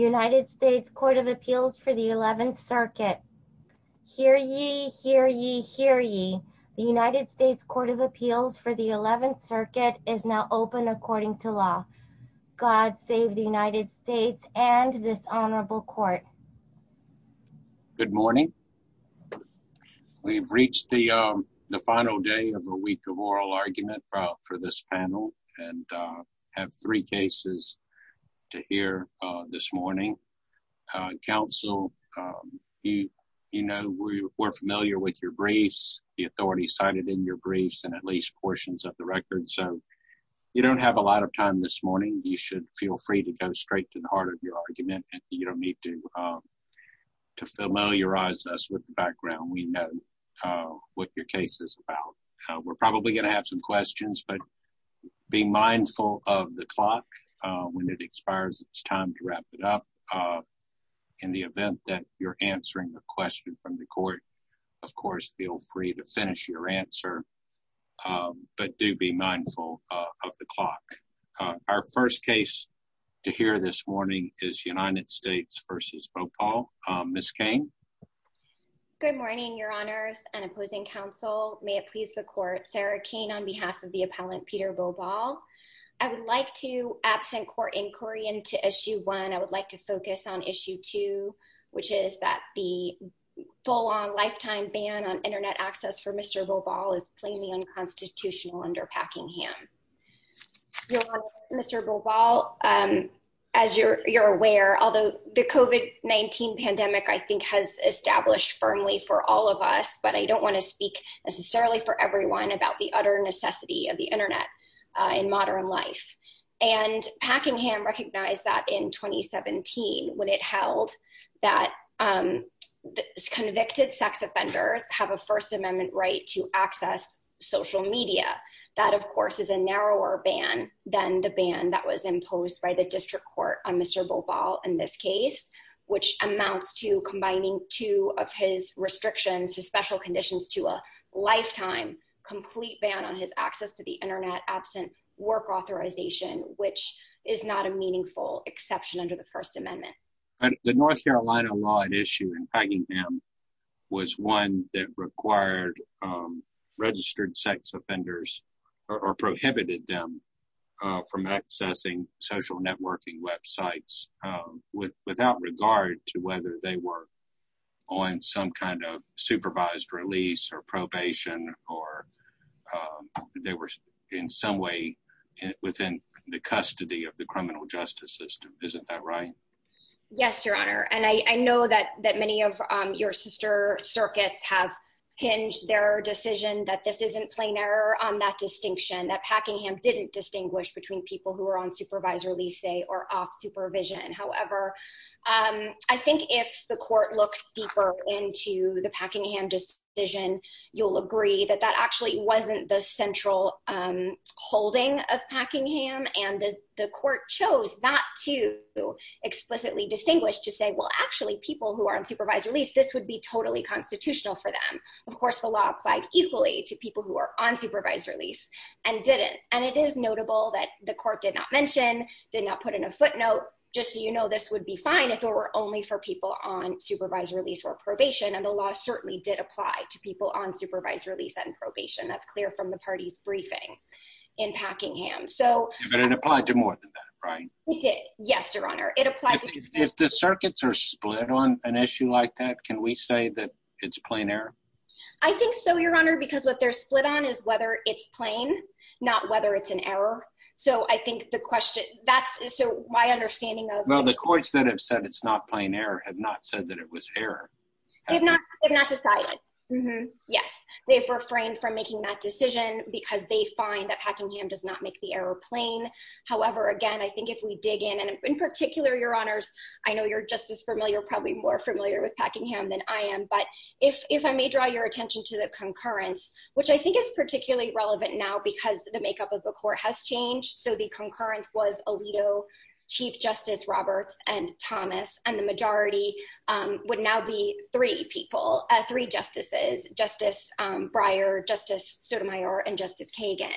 United States Court of Appeals for the 11th Circuit. Hear ye, hear ye, hear ye. The United States Court of Appeals for the 11th Circuit is now open according to law. God save the United States and this Honorable Court. Good morning. We have reached the the final day of a week of oral argument for this panel and have three cases to hear this morning. Counsel, you know we're familiar with your briefs, the authorities cited in your briefs and at least portions of the record, so you don't have a lot of time this morning. You should feel free to go straight to the heart of your argument. You don't need to to familiarize us with the background. We know what your case is about. We're probably going to have some questions, but be mindful of the clock when it expires. It's time to wrap it up in the event that you're answering the question from the court. Of course, feel free to finish your answer, but do be mindful of the clock. Our first case to hear this morning is United States v. Bhopal. Ms. Cain. Good morning, Your Honor. I would like to absent court inquiry into issue one. I would like to focus on issue two, which is that the full-on lifetime ban on internet access for Mr. Bhopal is plainly unconstitutional under Packingham. Mr. Bhopal, as you're aware, although the COVID-19 pandemic I think has established firmly for all of us, but I don't want to speak necessarily for everyone about the utter necessity of the internet in modern life. And Packingham recognized that in 2017 when it held that convicted sex offenders have a First Amendment right to access social media. That, of course, is a narrower ban than the ban that was imposed by the district court on Mr. Bhopal in this case, which amounts to combining two of his restrictions, his special conditions, to a lifetime complete ban on his access to the internet absent work authorization, which is not a meaningful exception under the First Amendment. The North Carolina law at issue in Packingham was one that required registered sex offenders or prohibited them from accessing social networking websites without regard to whether they were on some kind of supervised release or probation or they were in some way within the custody of the criminal justice system. Isn't that right? Yes, Your Honor, and I know that that many of your sister circuits have hinged their decision that this isn't plain error on that distinction, that Packingham didn't distinguish between people who were on supervised release or off supervision. However, I think if the court looks deeper into the Packingham decision, you'll agree that that actually wasn't the central holding of Packingham, and the court chose not to explicitly distinguish to say, well, actually people who are on supervised release, this would be totally constitutional for them. Of course, the law applied equally to people who are on supervised release and didn't, and it is notable that the court did not mention, did not put in a footnote, just so you know, this would be fine if it were only for people on supervised release or probation, and the law certainly did apply to people on supervised release and probation. That's clear from the party's briefing in Packingham. But it applied to more than that, right? Yes, Your Honor. If the circuits are split on an issue like that, can we say that it's plain error? I think so, Your Honor, because what they're split on is whether it's plain, not whether it's an error. So I think the question, that's, so my understanding of... Well, the courts that have said it's not plain error have not said that it was error. They've not decided. Mm-hmm. Yes, they've refrained from making that decision because they find that Packingham does not make the error plain. However, again, I think if we dig in, and in particular, Your Honors, I know you're just as familiar, probably more familiar with Packingham than I am, but if I may draw your attention to the concurrence, which I think is particularly relevant now because the makeup of the court has changed. So the concurrence was Alito, Chief Justice Roberts, and Thomas, and the majority would now be three people, three justices, Justice Breyer, Justice Sotomayor, and Justice Kagan.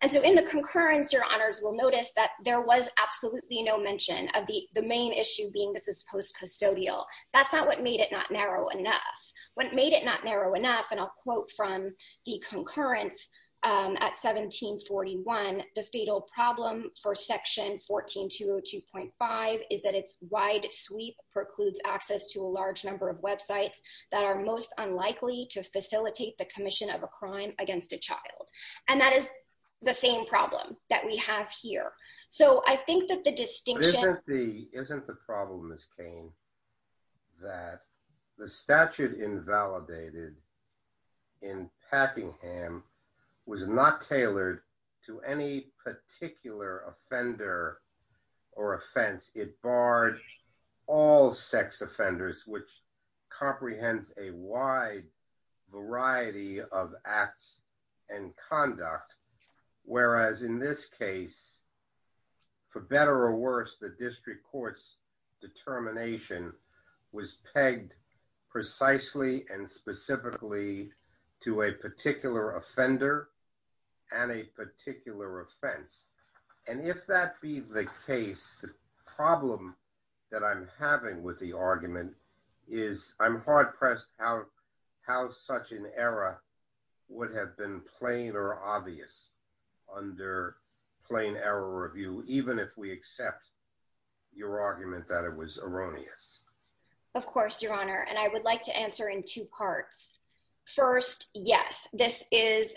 And so in the concurrence, Your Honors, we'll notice that there was absolutely no mention of the main issue being this is post-custodial. That's not what made it not narrow enough. What made it not narrow enough, and I'll quote from the concurrence at 1741, the fatal problem for Section 14202.5 is that its wide sweep precludes access to a large number of websites that are most unlikely to facilitate the commission of a crime against a child. And that is the same problem that we have here. So I think that the distinction... Isn't the problem, Miss The statute invalidated in Packingham was not tailored to any particular offender or offense. It barred all sex offenders, which comprehends a wide variety of acts and conduct. Whereas in this case, for better or worse, the precisely and specifically to a particular offender and a particular offense. And if that be the case, the problem that I'm having with the argument is I'm hard pressed how such an error would have been plain or obvious under plain error review, even if we accept your argument that it was I would like to answer in two parts. First, yes, this is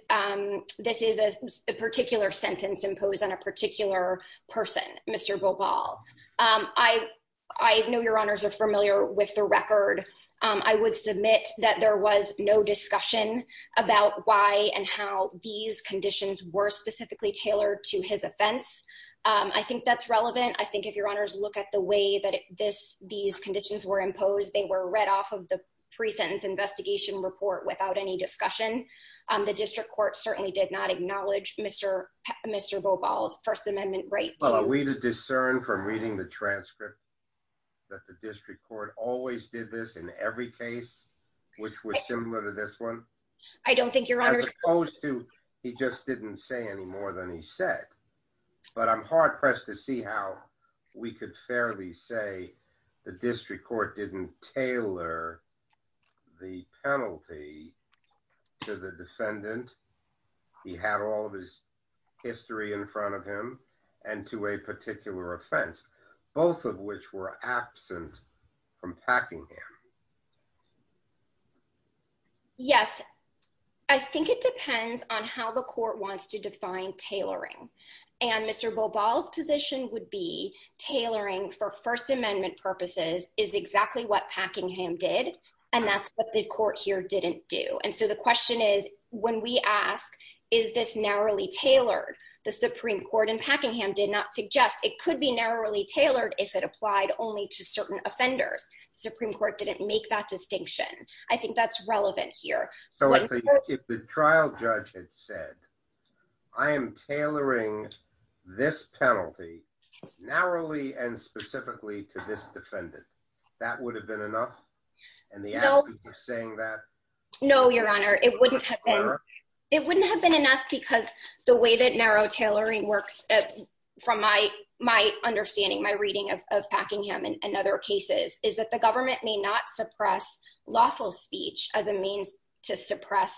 this is a particular sentence imposed on a particular person, Mr Bobal. I know your honors are familiar with the record. I would submit that there was no discussion about why and how these conditions were specifically tailored to his offense. I think that's relevant. I think if your honors look at the way that this these of the present investigation report without any discussion, the district court certainly did not acknowledge Mr Mr Bobal's First Amendment right. Well, are we to discern from reading the transcript that the district court always did this in every case, which was similar to this one? I don't think your honors opposed to. He just didn't say any more than he said. But I'm press to see how we could fairly say the district court didn't tailor the penalty to the defendant. He had all of his history in front of him and to a particular offense, both of which were absent from packing him. Yes, I think it be tailoring for First Amendment purposes is exactly what Packingham did, and that's what the court here didn't do. And so the question is, when we ask, is this narrowly tailored? The Supreme Court in Packingham did not suggest it could be narrowly tailored if it applied only to certain offenders. The Supreme Court didn't make that distinction. I think that's relevant here. So if the trial judge had said I am tailoring this penalty narrowly and specifically to this defendant, that would have been enough. And the saying that no, your honor, it wouldn't have been. It wouldn't have been enough because the way that narrow tailoring works from my my understanding, my reading of Packingham and other cases is that the government may not suppress lawful speech as a means to suppress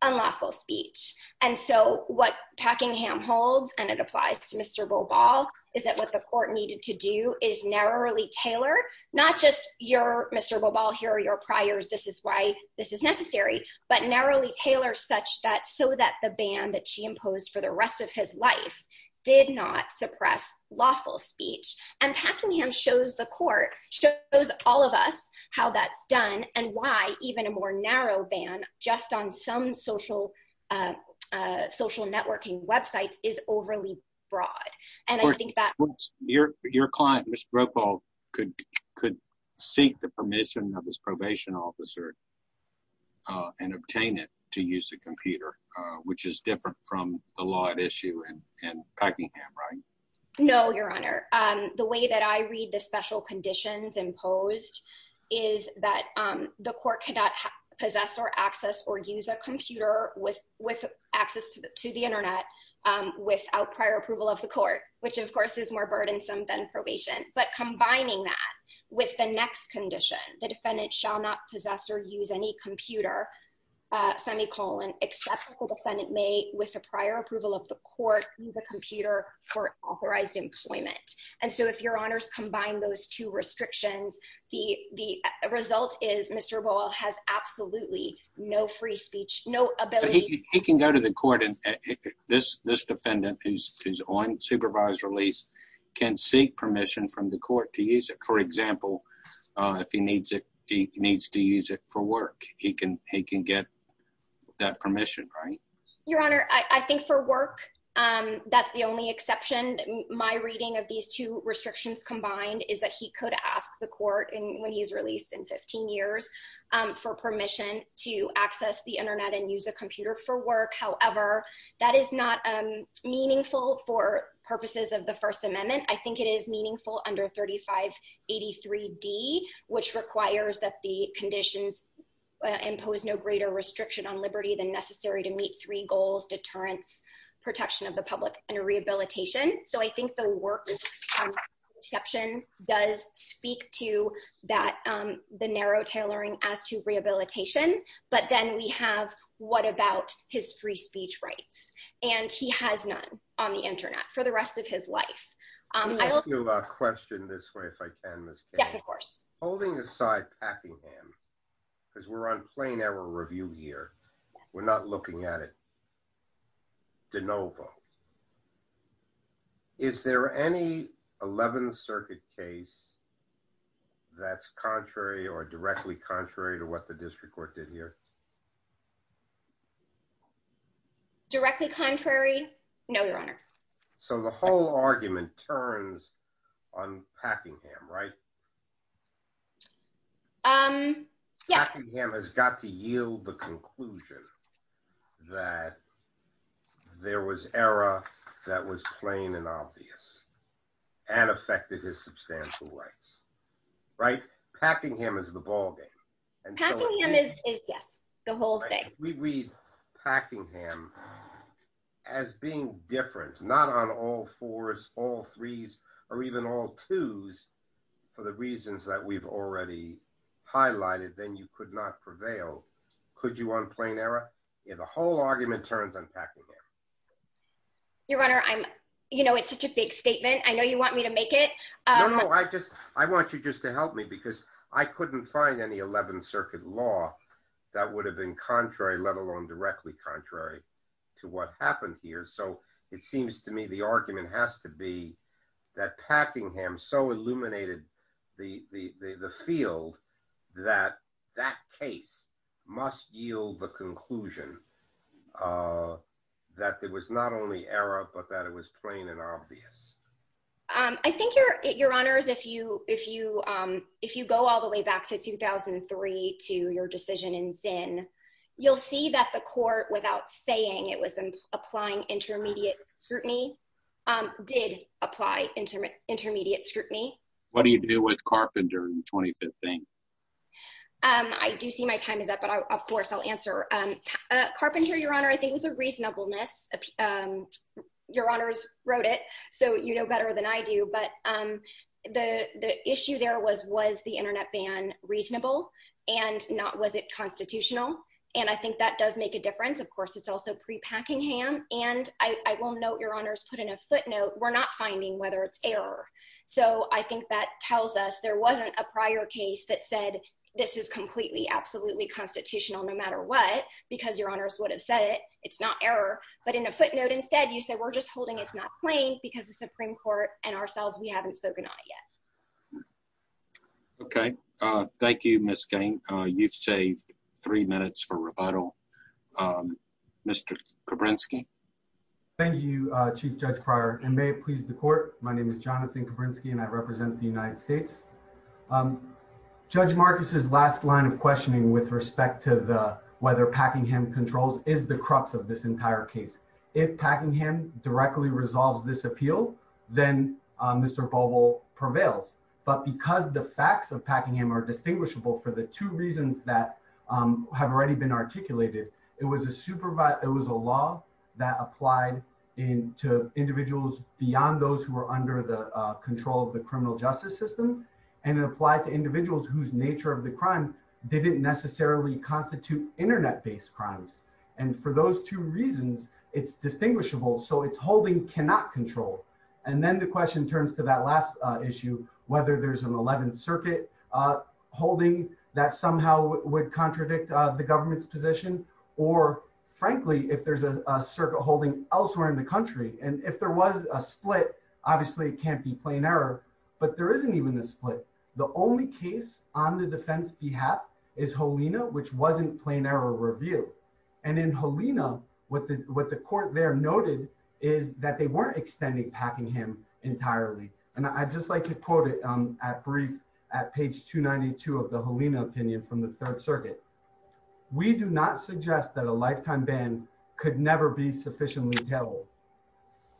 unlawful speech. And so what Packingham holds, and it applies to Mr. Boball, is that what the court needed to do is narrowly tailor, not just your Mr. Boball, here are your priors, this is why this is necessary, but narrowly tailor such that so that the ban that she imposed for the rest of his life did not suppress lawful speech. And Packingham shows the court shows all of us how that's done and why even a more narrow ban just on some social social networking websites is overly broad. And I think that your your client, Mr. Brokaw, could could seek the permission of his probation officer and obtain it to use the computer, which is different from the law at issue in special conditions imposed, is that the court cannot possess or access or use a computer with with access to the internet without prior approval of the court, which of course is more burdensome than probation. But combining that with the next condition, the defendant shall not possess or use any computer, semicolon, except the defendant may, with the prior approval of the court, use a computer for those two restrictions. The result is Mr. Ball has absolutely no free speech, no ability, he can go to the court and this this defendant who's on supervised release can seek permission from the court to use it. For example, if he needs it, he needs to use it for work, he can he can get that permission, right? Your Honor, I think for work, that's the only exception. My reading of these two combined is that he could ask the court and when he's released in 15 years for permission to access the internet and use a computer for work. However, that is not meaningful for purposes of the First Amendment. I think it is meaningful under 3583 D, which requires that the conditions impose no greater restriction on liberty than necessary to meet three goals, deterrence, protection of the does speak to that, the narrow tailoring as to rehabilitation, but then we have what about his free speech rights, and he has none on the internet for the rest of his life. Question this way, if I can, yes, of course, holding aside Packingham, because we're on plain error review here. We're not looking at it. De novo. Is there any 11th Circuit case that's contrary or directly contrary to what the district court did here? Directly contrary? No, Your Honor. So the whole argument turns on Packingham, right? Um, yes, Packingham has got to yield the conclusion that there was error that was plain and obvious, and affected his substantial rights. Right? Packingham is the ballgame. And Packingham is, yes, the whole thing. We read Packingham as being different, not on all fours, all threes, or even all fours, but Packingham is the ballgame, and if you choose, for the reasons that we've already highlighted, then you could not prevail. Could you on plain error? The whole argument turns on Packingham. Your Honor, I'm, you know, it's such a big statement. I know you want me to make it. No, no, I just, I want you just to help me because I couldn't find any 11th that so illuminated the field that that case must yield the conclusion that there was not only error, but that it was plain and obvious. I think, Your Honors, if you go all the way back to 2003, to your decision in Zinn, you'll see that the court, without saying it was applying intermediate scrutiny. What do you do with Carpenter in 2015? I do see my time is up, but of course, I'll answer. Carpenter, Your Honor, I think was a reasonableness. Your Honors wrote it, so you know better than I do. But the issue there was, was the internet ban reasonable? And was it constitutional? And I think that does make a difference. Of course, it's also pre-Packingham. And I will note, Your Honors, put in a footnote, we're not finding whether it's error. So I think that tells us there wasn't a prior case that said, this is completely, absolutely constitutional, no matter what, because Your Honors would have said it, it's not error. But in a footnote, instead, you said, we're just holding it's not plain because the Supreme Court and ourselves, we haven't spoken on it yet. Okay. Thank you, Ms. Cain. You've saved three minutes for rebuttal. Mr. Judge Pryor, and may it please the court. My name is Jonathan Kavrinsky, and I represent the United States. Judge Marcus's last line of questioning with respect to the whether Packingham controls is the crux of this entire case. If Packingham directly resolves this appeal, then Mr. Bobo prevails. But because the facts of Packingham are distinguishable for the two reasons that have already been articulated, it was a supervise, it was a law that applied in to individuals beyond those who are under the control of the criminal justice system, and it applied to individuals whose nature of the crime didn't necessarily constitute internet based crimes. And for those two reasons, it's distinguishable. So it's holding cannot control. And then the question turns to that last issue, whether there's an 11th Circuit holding that somehow would contradict the government's position, or, frankly, if there's a circuit holding elsewhere in the country, and if there was a split, obviously it can't be plain error. But there isn't even a split. The only case on the defense behalf is Helena, which wasn't plain error review. And in Helena, what the what the court there noted is that they weren't extending Packingham entirely. And I'd just like to quote it at brief at page 292 of the Helena opinion from the devil.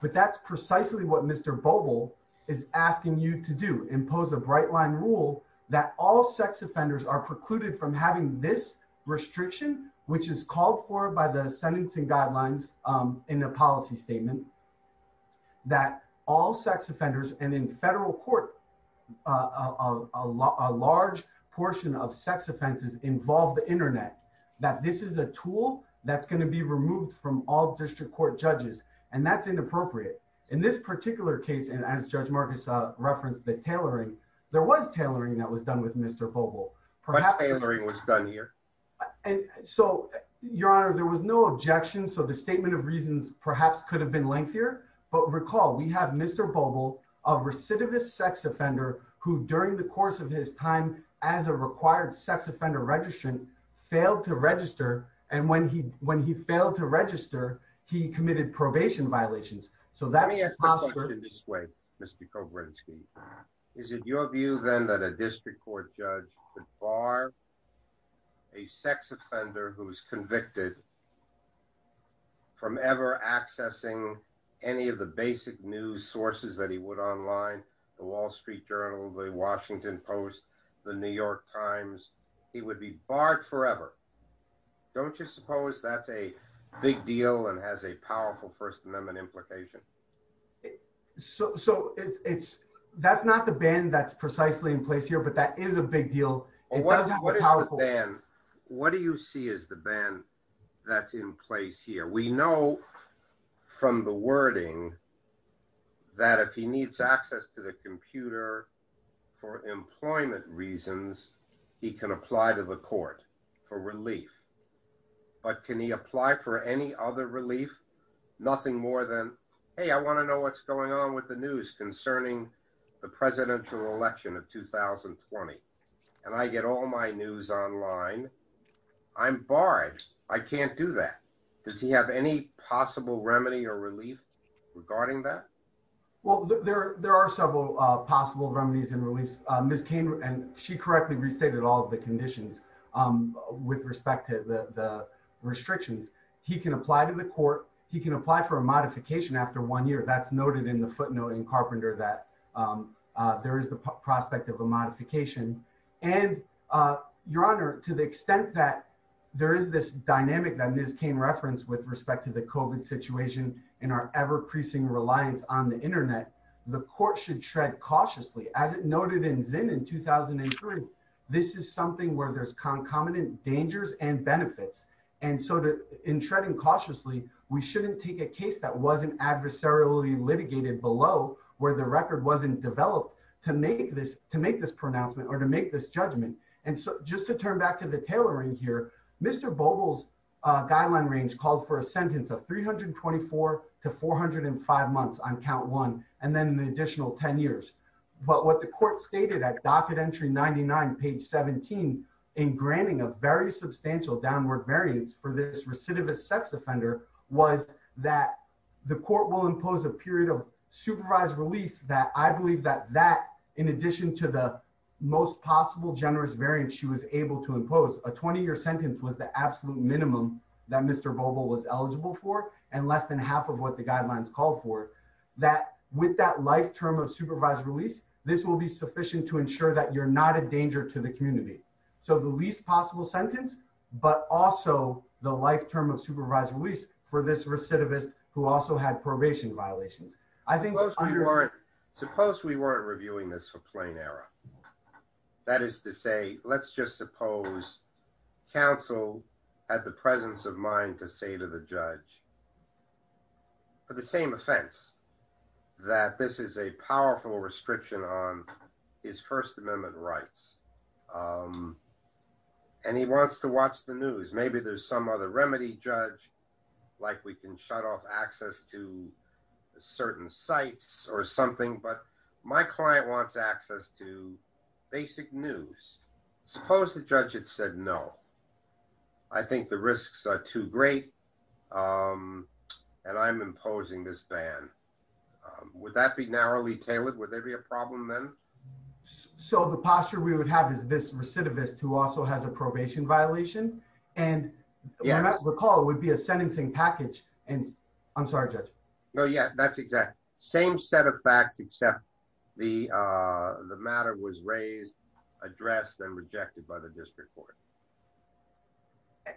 But that's precisely what Mr. Bobo is asking you to do impose a bright line rule that all sex offenders are precluded from having this restriction, which is called for by the sentencing guidelines in the policy statement that all sex offenders and in federal court, a large portion of sex offenses involve the Internet, that this is a tool that's going to be removed from all district court judges. And that's inappropriate. In this particular case, and as Judge Marcus referenced the tailoring, there was tailoring that was done with Mr. Bobo, perhaps answering what's done here. And so, Your Honor, there was no objection. So the statement of reasons perhaps could have been lengthier. But recall, we have Mr. Bobo of recidivist sex offender who during the course of his time as a required sex offender registration, failed to register. And when he when he failed to register, he committed probation violations. So that's in this way, Mr. Kovrinsky, is it your view, then that a district court judge could bar a sex offender who was convicted from ever accessing any of the basic news sources that he would online, the Wall Street Journal, the New York Times, he would be barred forever? Don't you suppose that's a big deal and has a powerful First Amendment implication? So it's, that's not the ban that's precisely in place here. But that is a big deal. What do you see is the ban that's in place here, we know, from the wording, that if he needs access to the computer, for employment reasons, he can apply to the court for relief. But can he apply for any other relief? Nothing more than, hey, I want to know what's going on with the news concerning the presidential election of 2020. And I get all my news online. I'm barred. I can't do that. Does he have any possible remedy or relief regarding that? Well, there are several possible remedies and reliefs. Ms. Cain, and she correctly restated all of the conditions with respect to the restrictions. He can apply to the court, he can apply for a modification after one year, that's noted in the footnote in Carpenter that there is the prospect of a modification. And, Your Honor, to the extent that there is this dynamic that Ms. Cain referenced with respect to the COVID situation, and our ever-increasing reliance on the internet, the court should tread cautiously. As it noted in Zinn in 2003, this is something where there's concomitant dangers and benefits. And so in treading cautiously, we shouldn't take a case that wasn't adversarially litigated below where the record wasn't developed to make this pronouncement or to make this judgment. And so just to turn back to the record, Ms. Cain's time range called for a sentence of 324 to 405 months on count one, and then the additional 10 years. But what the court stated at docket entry 99, page 17, in granting a very substantial downward variance for this recidivist sex offender was that the court will impose a period of supervised release that I believe that that, in addition to the most possible generous variance she was able to impose, a 20-year sentence was the sentence that Mr. Vogel was eligible for, and less than half of what the guidelines called for, that with that life term of supervised release, this will be sufficient to ensure that you're not a danger to the community. So the least possible sentence, but also the life term of supervised release for this recidivist who also had probation violations. I think... Suppose we weren't reviewing this for plain error. That is to say, let's just suppose counsel had the presence of mind to say to the judge, for the same offense, that this is a powerful restriction on his First Amendment rights, and he wants to watch the news. Maybe there's some other remedy, judge, like we can shut off access to certain sites or something, but my client wants access to basic news. Suppose the judge had said, no, I think the risks are too great, and I'm imposing this ban. Would that be narrowly tailored? Would there be a problem then? So the posture we would have is this recidivist who also has a probation violation, and if I recall, it would be a sentencing package, and... I'm sorry, judge. Oh, yeah, that's exact. Same set of facts except the matter was raised, addressed, and rejected by the district court.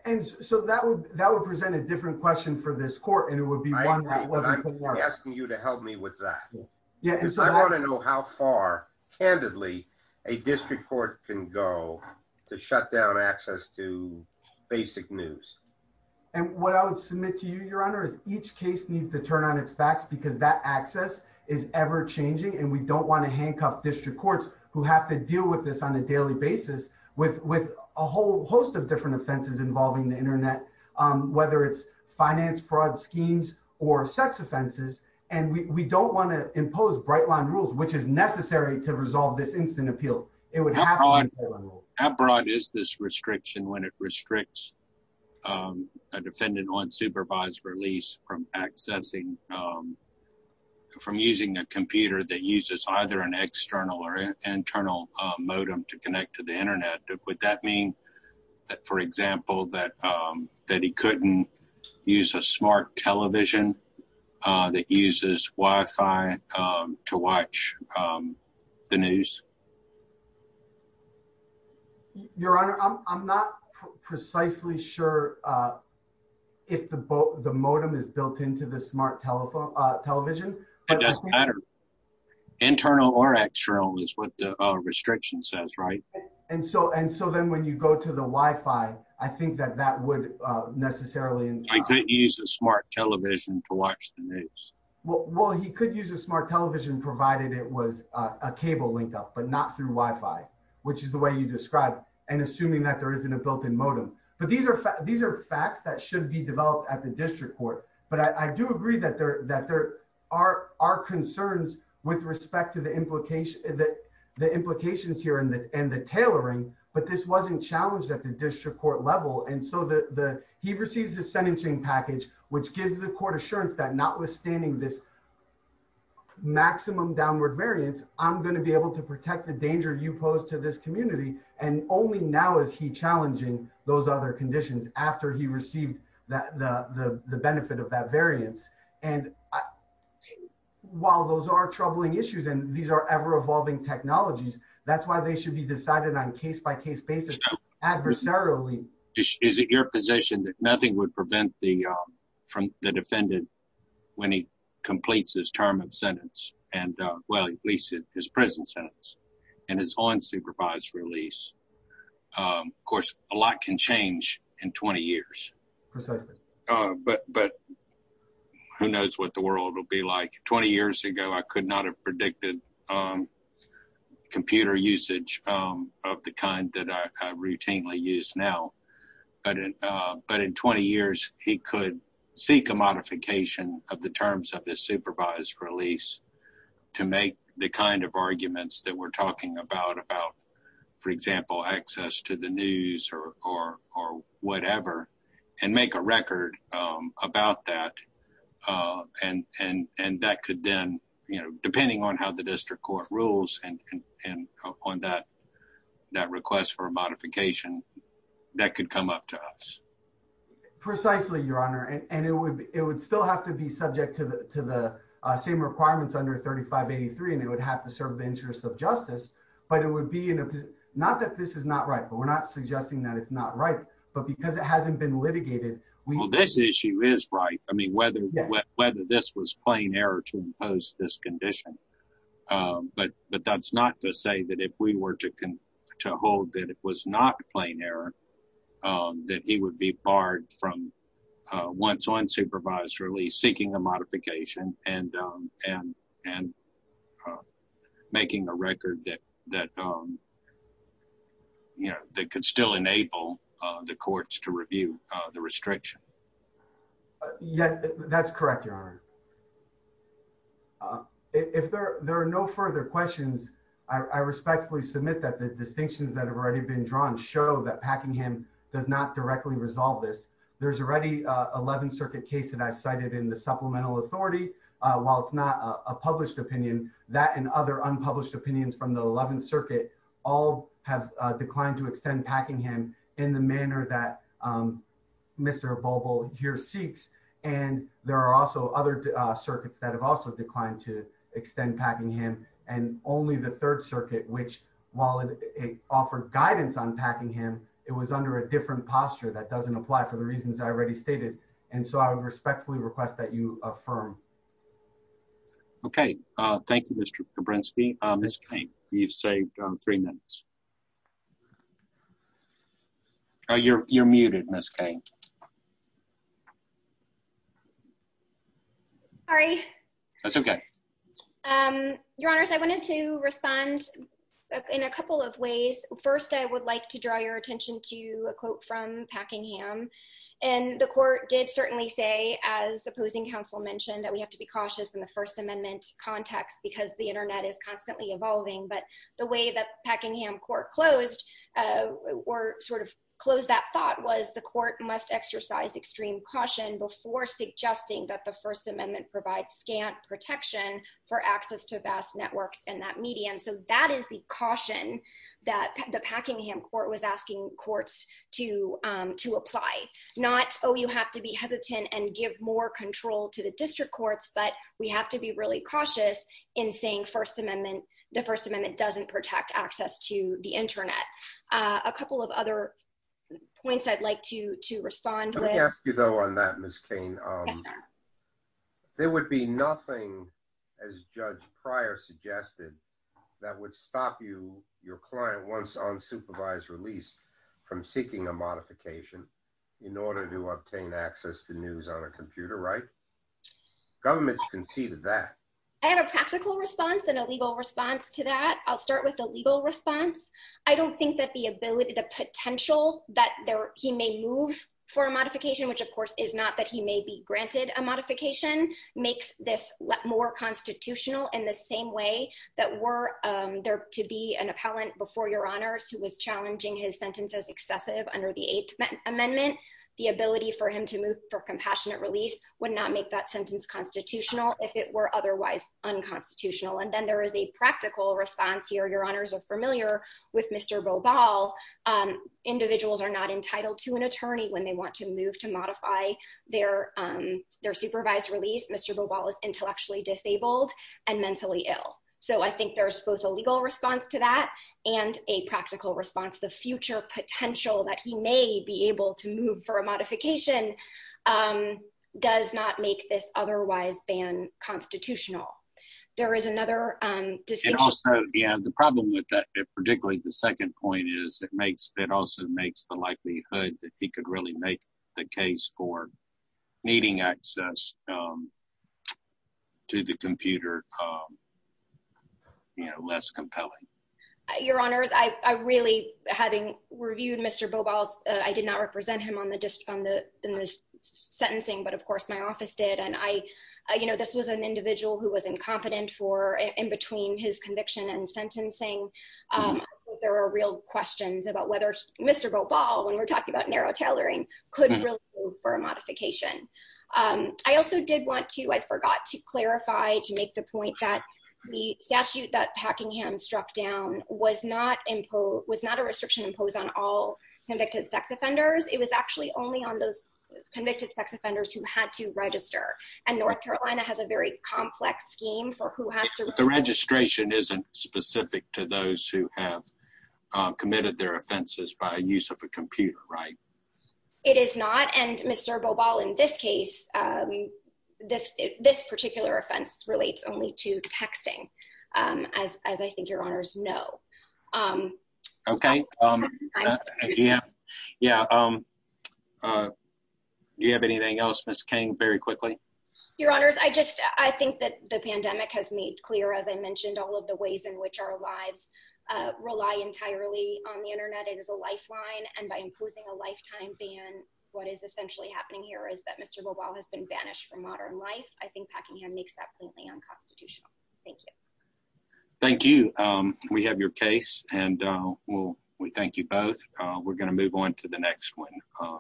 And so that would present a different question for this court, and it would be one that wasn't put forth. I agree, but I'm asking you to help me with that. Yeah, and so... Because I wanna know how far, candidly, a district court can go to shut down access to basic news. And what I would submit to you, your honor, is each case needs to turn on its backs because that access is ever changing, and we don't wanna handcuff district courts who have to deal with this on a daily basis with a whole host of different offenses involving the internet, whether it's finance fraud schemes or sex offenses, and we don't wanna impose bright line rules, which is necessary to resolve this instant appeal. It would have to be... How broad is this restriction when it restricts a defendant on supervised release from accessing... From using a computer that uses either an external or an internal modem to connect to the internet? Would that mean that, for example, that he couldn't use a smart television that uses WiFi to watch the news? Your honor, I'm not precisely sure if the modem is built into the smart television, but... It doesn't matter. Internal or external is what the restriction says, right? And so then when you go to the WiFi, I think that that would necessarily... He couldn't use a smart television to watch the news. Well, he could use a smart television provided it was a cable link up, but not through WiFi, which is the way you described, and assuming that there isn't a built in modem. But these are facts that should be developed at the district court, but I do agree that there are concerns with respect to the implications here and the tailoring, but this wasn't challenged at the district court level. And so he receives the sentencing package, which gives the court assurance that notwithstanding this maximum downward variance, I'm gonna be able to protect the danger you pose to this community, and only now is he challenging those other conditions after he received the benefit of that variance. And while those are troubling issues and these are ever evolving technologies, that's why they should be decided on case by case basis adversarially. Is it your position that nothing would prevent the defendant when he completes his term of sentence, and well, at least his prison sentence, and is on supervised release? Of course, a lot can change in 20 years. Precisely. But who knows what the world will be like. 20 years ago, I could not have predicted computer usage of the kind that I routinely use now. But in 20 years, he could seek a modification of the terms of this supervised release to make the kind of arguments that we're talking about, about, for example, access to the news or whatever, and make a record about that. And that could then, depending on how the district court rules and on that request for a modification, that could come up to us. Precisely, Your Honor. And it would still have to be subject to the same requirements under 3583, and it would have to serve the interests of justice. But it would be... Not that this is not right, but we're not suggesting that it's not right. But because it hasn't been litigated... Well, this issue is right. I mean, whether this was plain error to impose this condition. But that's not to say that if we were to hold that it was not plain error, that he would be barred from, once on supervised release, seeking a modification and making a record that could still enable the courts to review the restriction. Yes, that's correct, Your Honor. If there are no further questions, I respectfully submit that the distinctions that have already been drawn show that Packingham does not directly resolve this. There's already an 11th Circuit case that I cited in the Supplemental Authority. While it's not a published opinion, that and other unpublished opinions from the 11th Circuit all have declined to extend Packingham in the Volvo Year 6. And there are also other circuits that have also declined to extend Packingham, and only the 3rd Circuit, which, while it offered guidance on Packingham, it was under a different posture that doesn't apply for the reasons I already stated. And so I would respectfully request that you affirm. Okay. Thank you, Mr. Brinsky. Ms. Cain, you've saved three minutes. You're muted, Ms. Cain. Sorry. That's okay. Your Honors, I wanted to respond in a couple of ways. First, I would like to draw your attention to a quote from Packingham. And the court did certainly say, as opposing counsel mentioned, that we have to be cautious in the First Amendment context because the internet is constantly evolving. But the way that Packingham court closed, or sort of closed that thought, was the court must exercise extreme caution before suggesting that the First Amendment provides scant protection for access to vast networks in that medium. So that is the caution that the Packingham court was asking courts to apply. Not, oh, you have to be hesitant and give more control to the district courts, but we have to be really cautious in saying the First Amendment doesn't protect access to the internet. A couple of other points I'd like to respond with. Let me ask you though on that, Ms. Cain. Yes, sir. There would be nothing, as Judge Pryor suggested, that would stop you, your client, once on supervised release from seeking a modification in order to obtain access to news on a computer, right? Government's conceded that. I have a practical response and a legal response to that. I'll start with the legal response. I don't think that the ability, the potential that he may move for a modification, which of course is not that he may be granted a modification, makes this more constitutional in the same way that were there to be an appellant before your honors who was challenging his sentence as excessive under the Eighth Amendment, the ability for him to move for compassionate release would not make that sentence constitutional if it were otherwise unconstitutional. And then there is a practical response here. Your honors are familiar with Mr. Bobal. Individuals are not entitled to an attorney when they want to move to modify their supervised release. Mr. Bobal is intellectually disabled and mentally ill. So I think there's both a legal response to that and a practical response. The future potential that he may be able to move for a modification um does not make this otherwise ban constitutional. There is another um distinction. Yeah, the problem with that, particularly the second point is that makes that also makes the likelihood that he could really make the case for needing access um to the computer. Um you know, less compelling. Your honors, I really having reviewed Mr Bobal's, I sentencing, but of course my office did and I, you know, this was an individual who was incompetent for in between his conviction and sentencing. Um, there were real questions about whether Mr Bobal when we're talking about narrow tailoring could really move for a modification. Um, I also did want to, I forgot to clarify to make the point that the statute that Packingham struck down was not was not a restriction imposed on all convicted sex offenders. It was actually only on those convicted sex offenders who had to register. And North Carolina has a very complex scheme for who has to. The registration isn't specific to those who have committed their offenses by use of a computer, right? It is not. And Mr Bobal in this case, um, this this particular offense relates only to texting. Um, as as I think your honors no. Um, okay. Um, yeah, yeah. Um, uh, you have anything else, Miss King? Very quickly, your honors. I just I think that the pandemic has made clear as I mentioned all of the ways in which our lives rely entirely on the Internet. It is a lifeline. And by imposing a lifetime ban, what is essentially happening here is that Mr Bobal has been banished from modern life. I think Packingham makes that completely unconstitutional. Thank you. Thank you. Um, we have your case and, uh, well, we thank you both. We're gonna move on to the next one.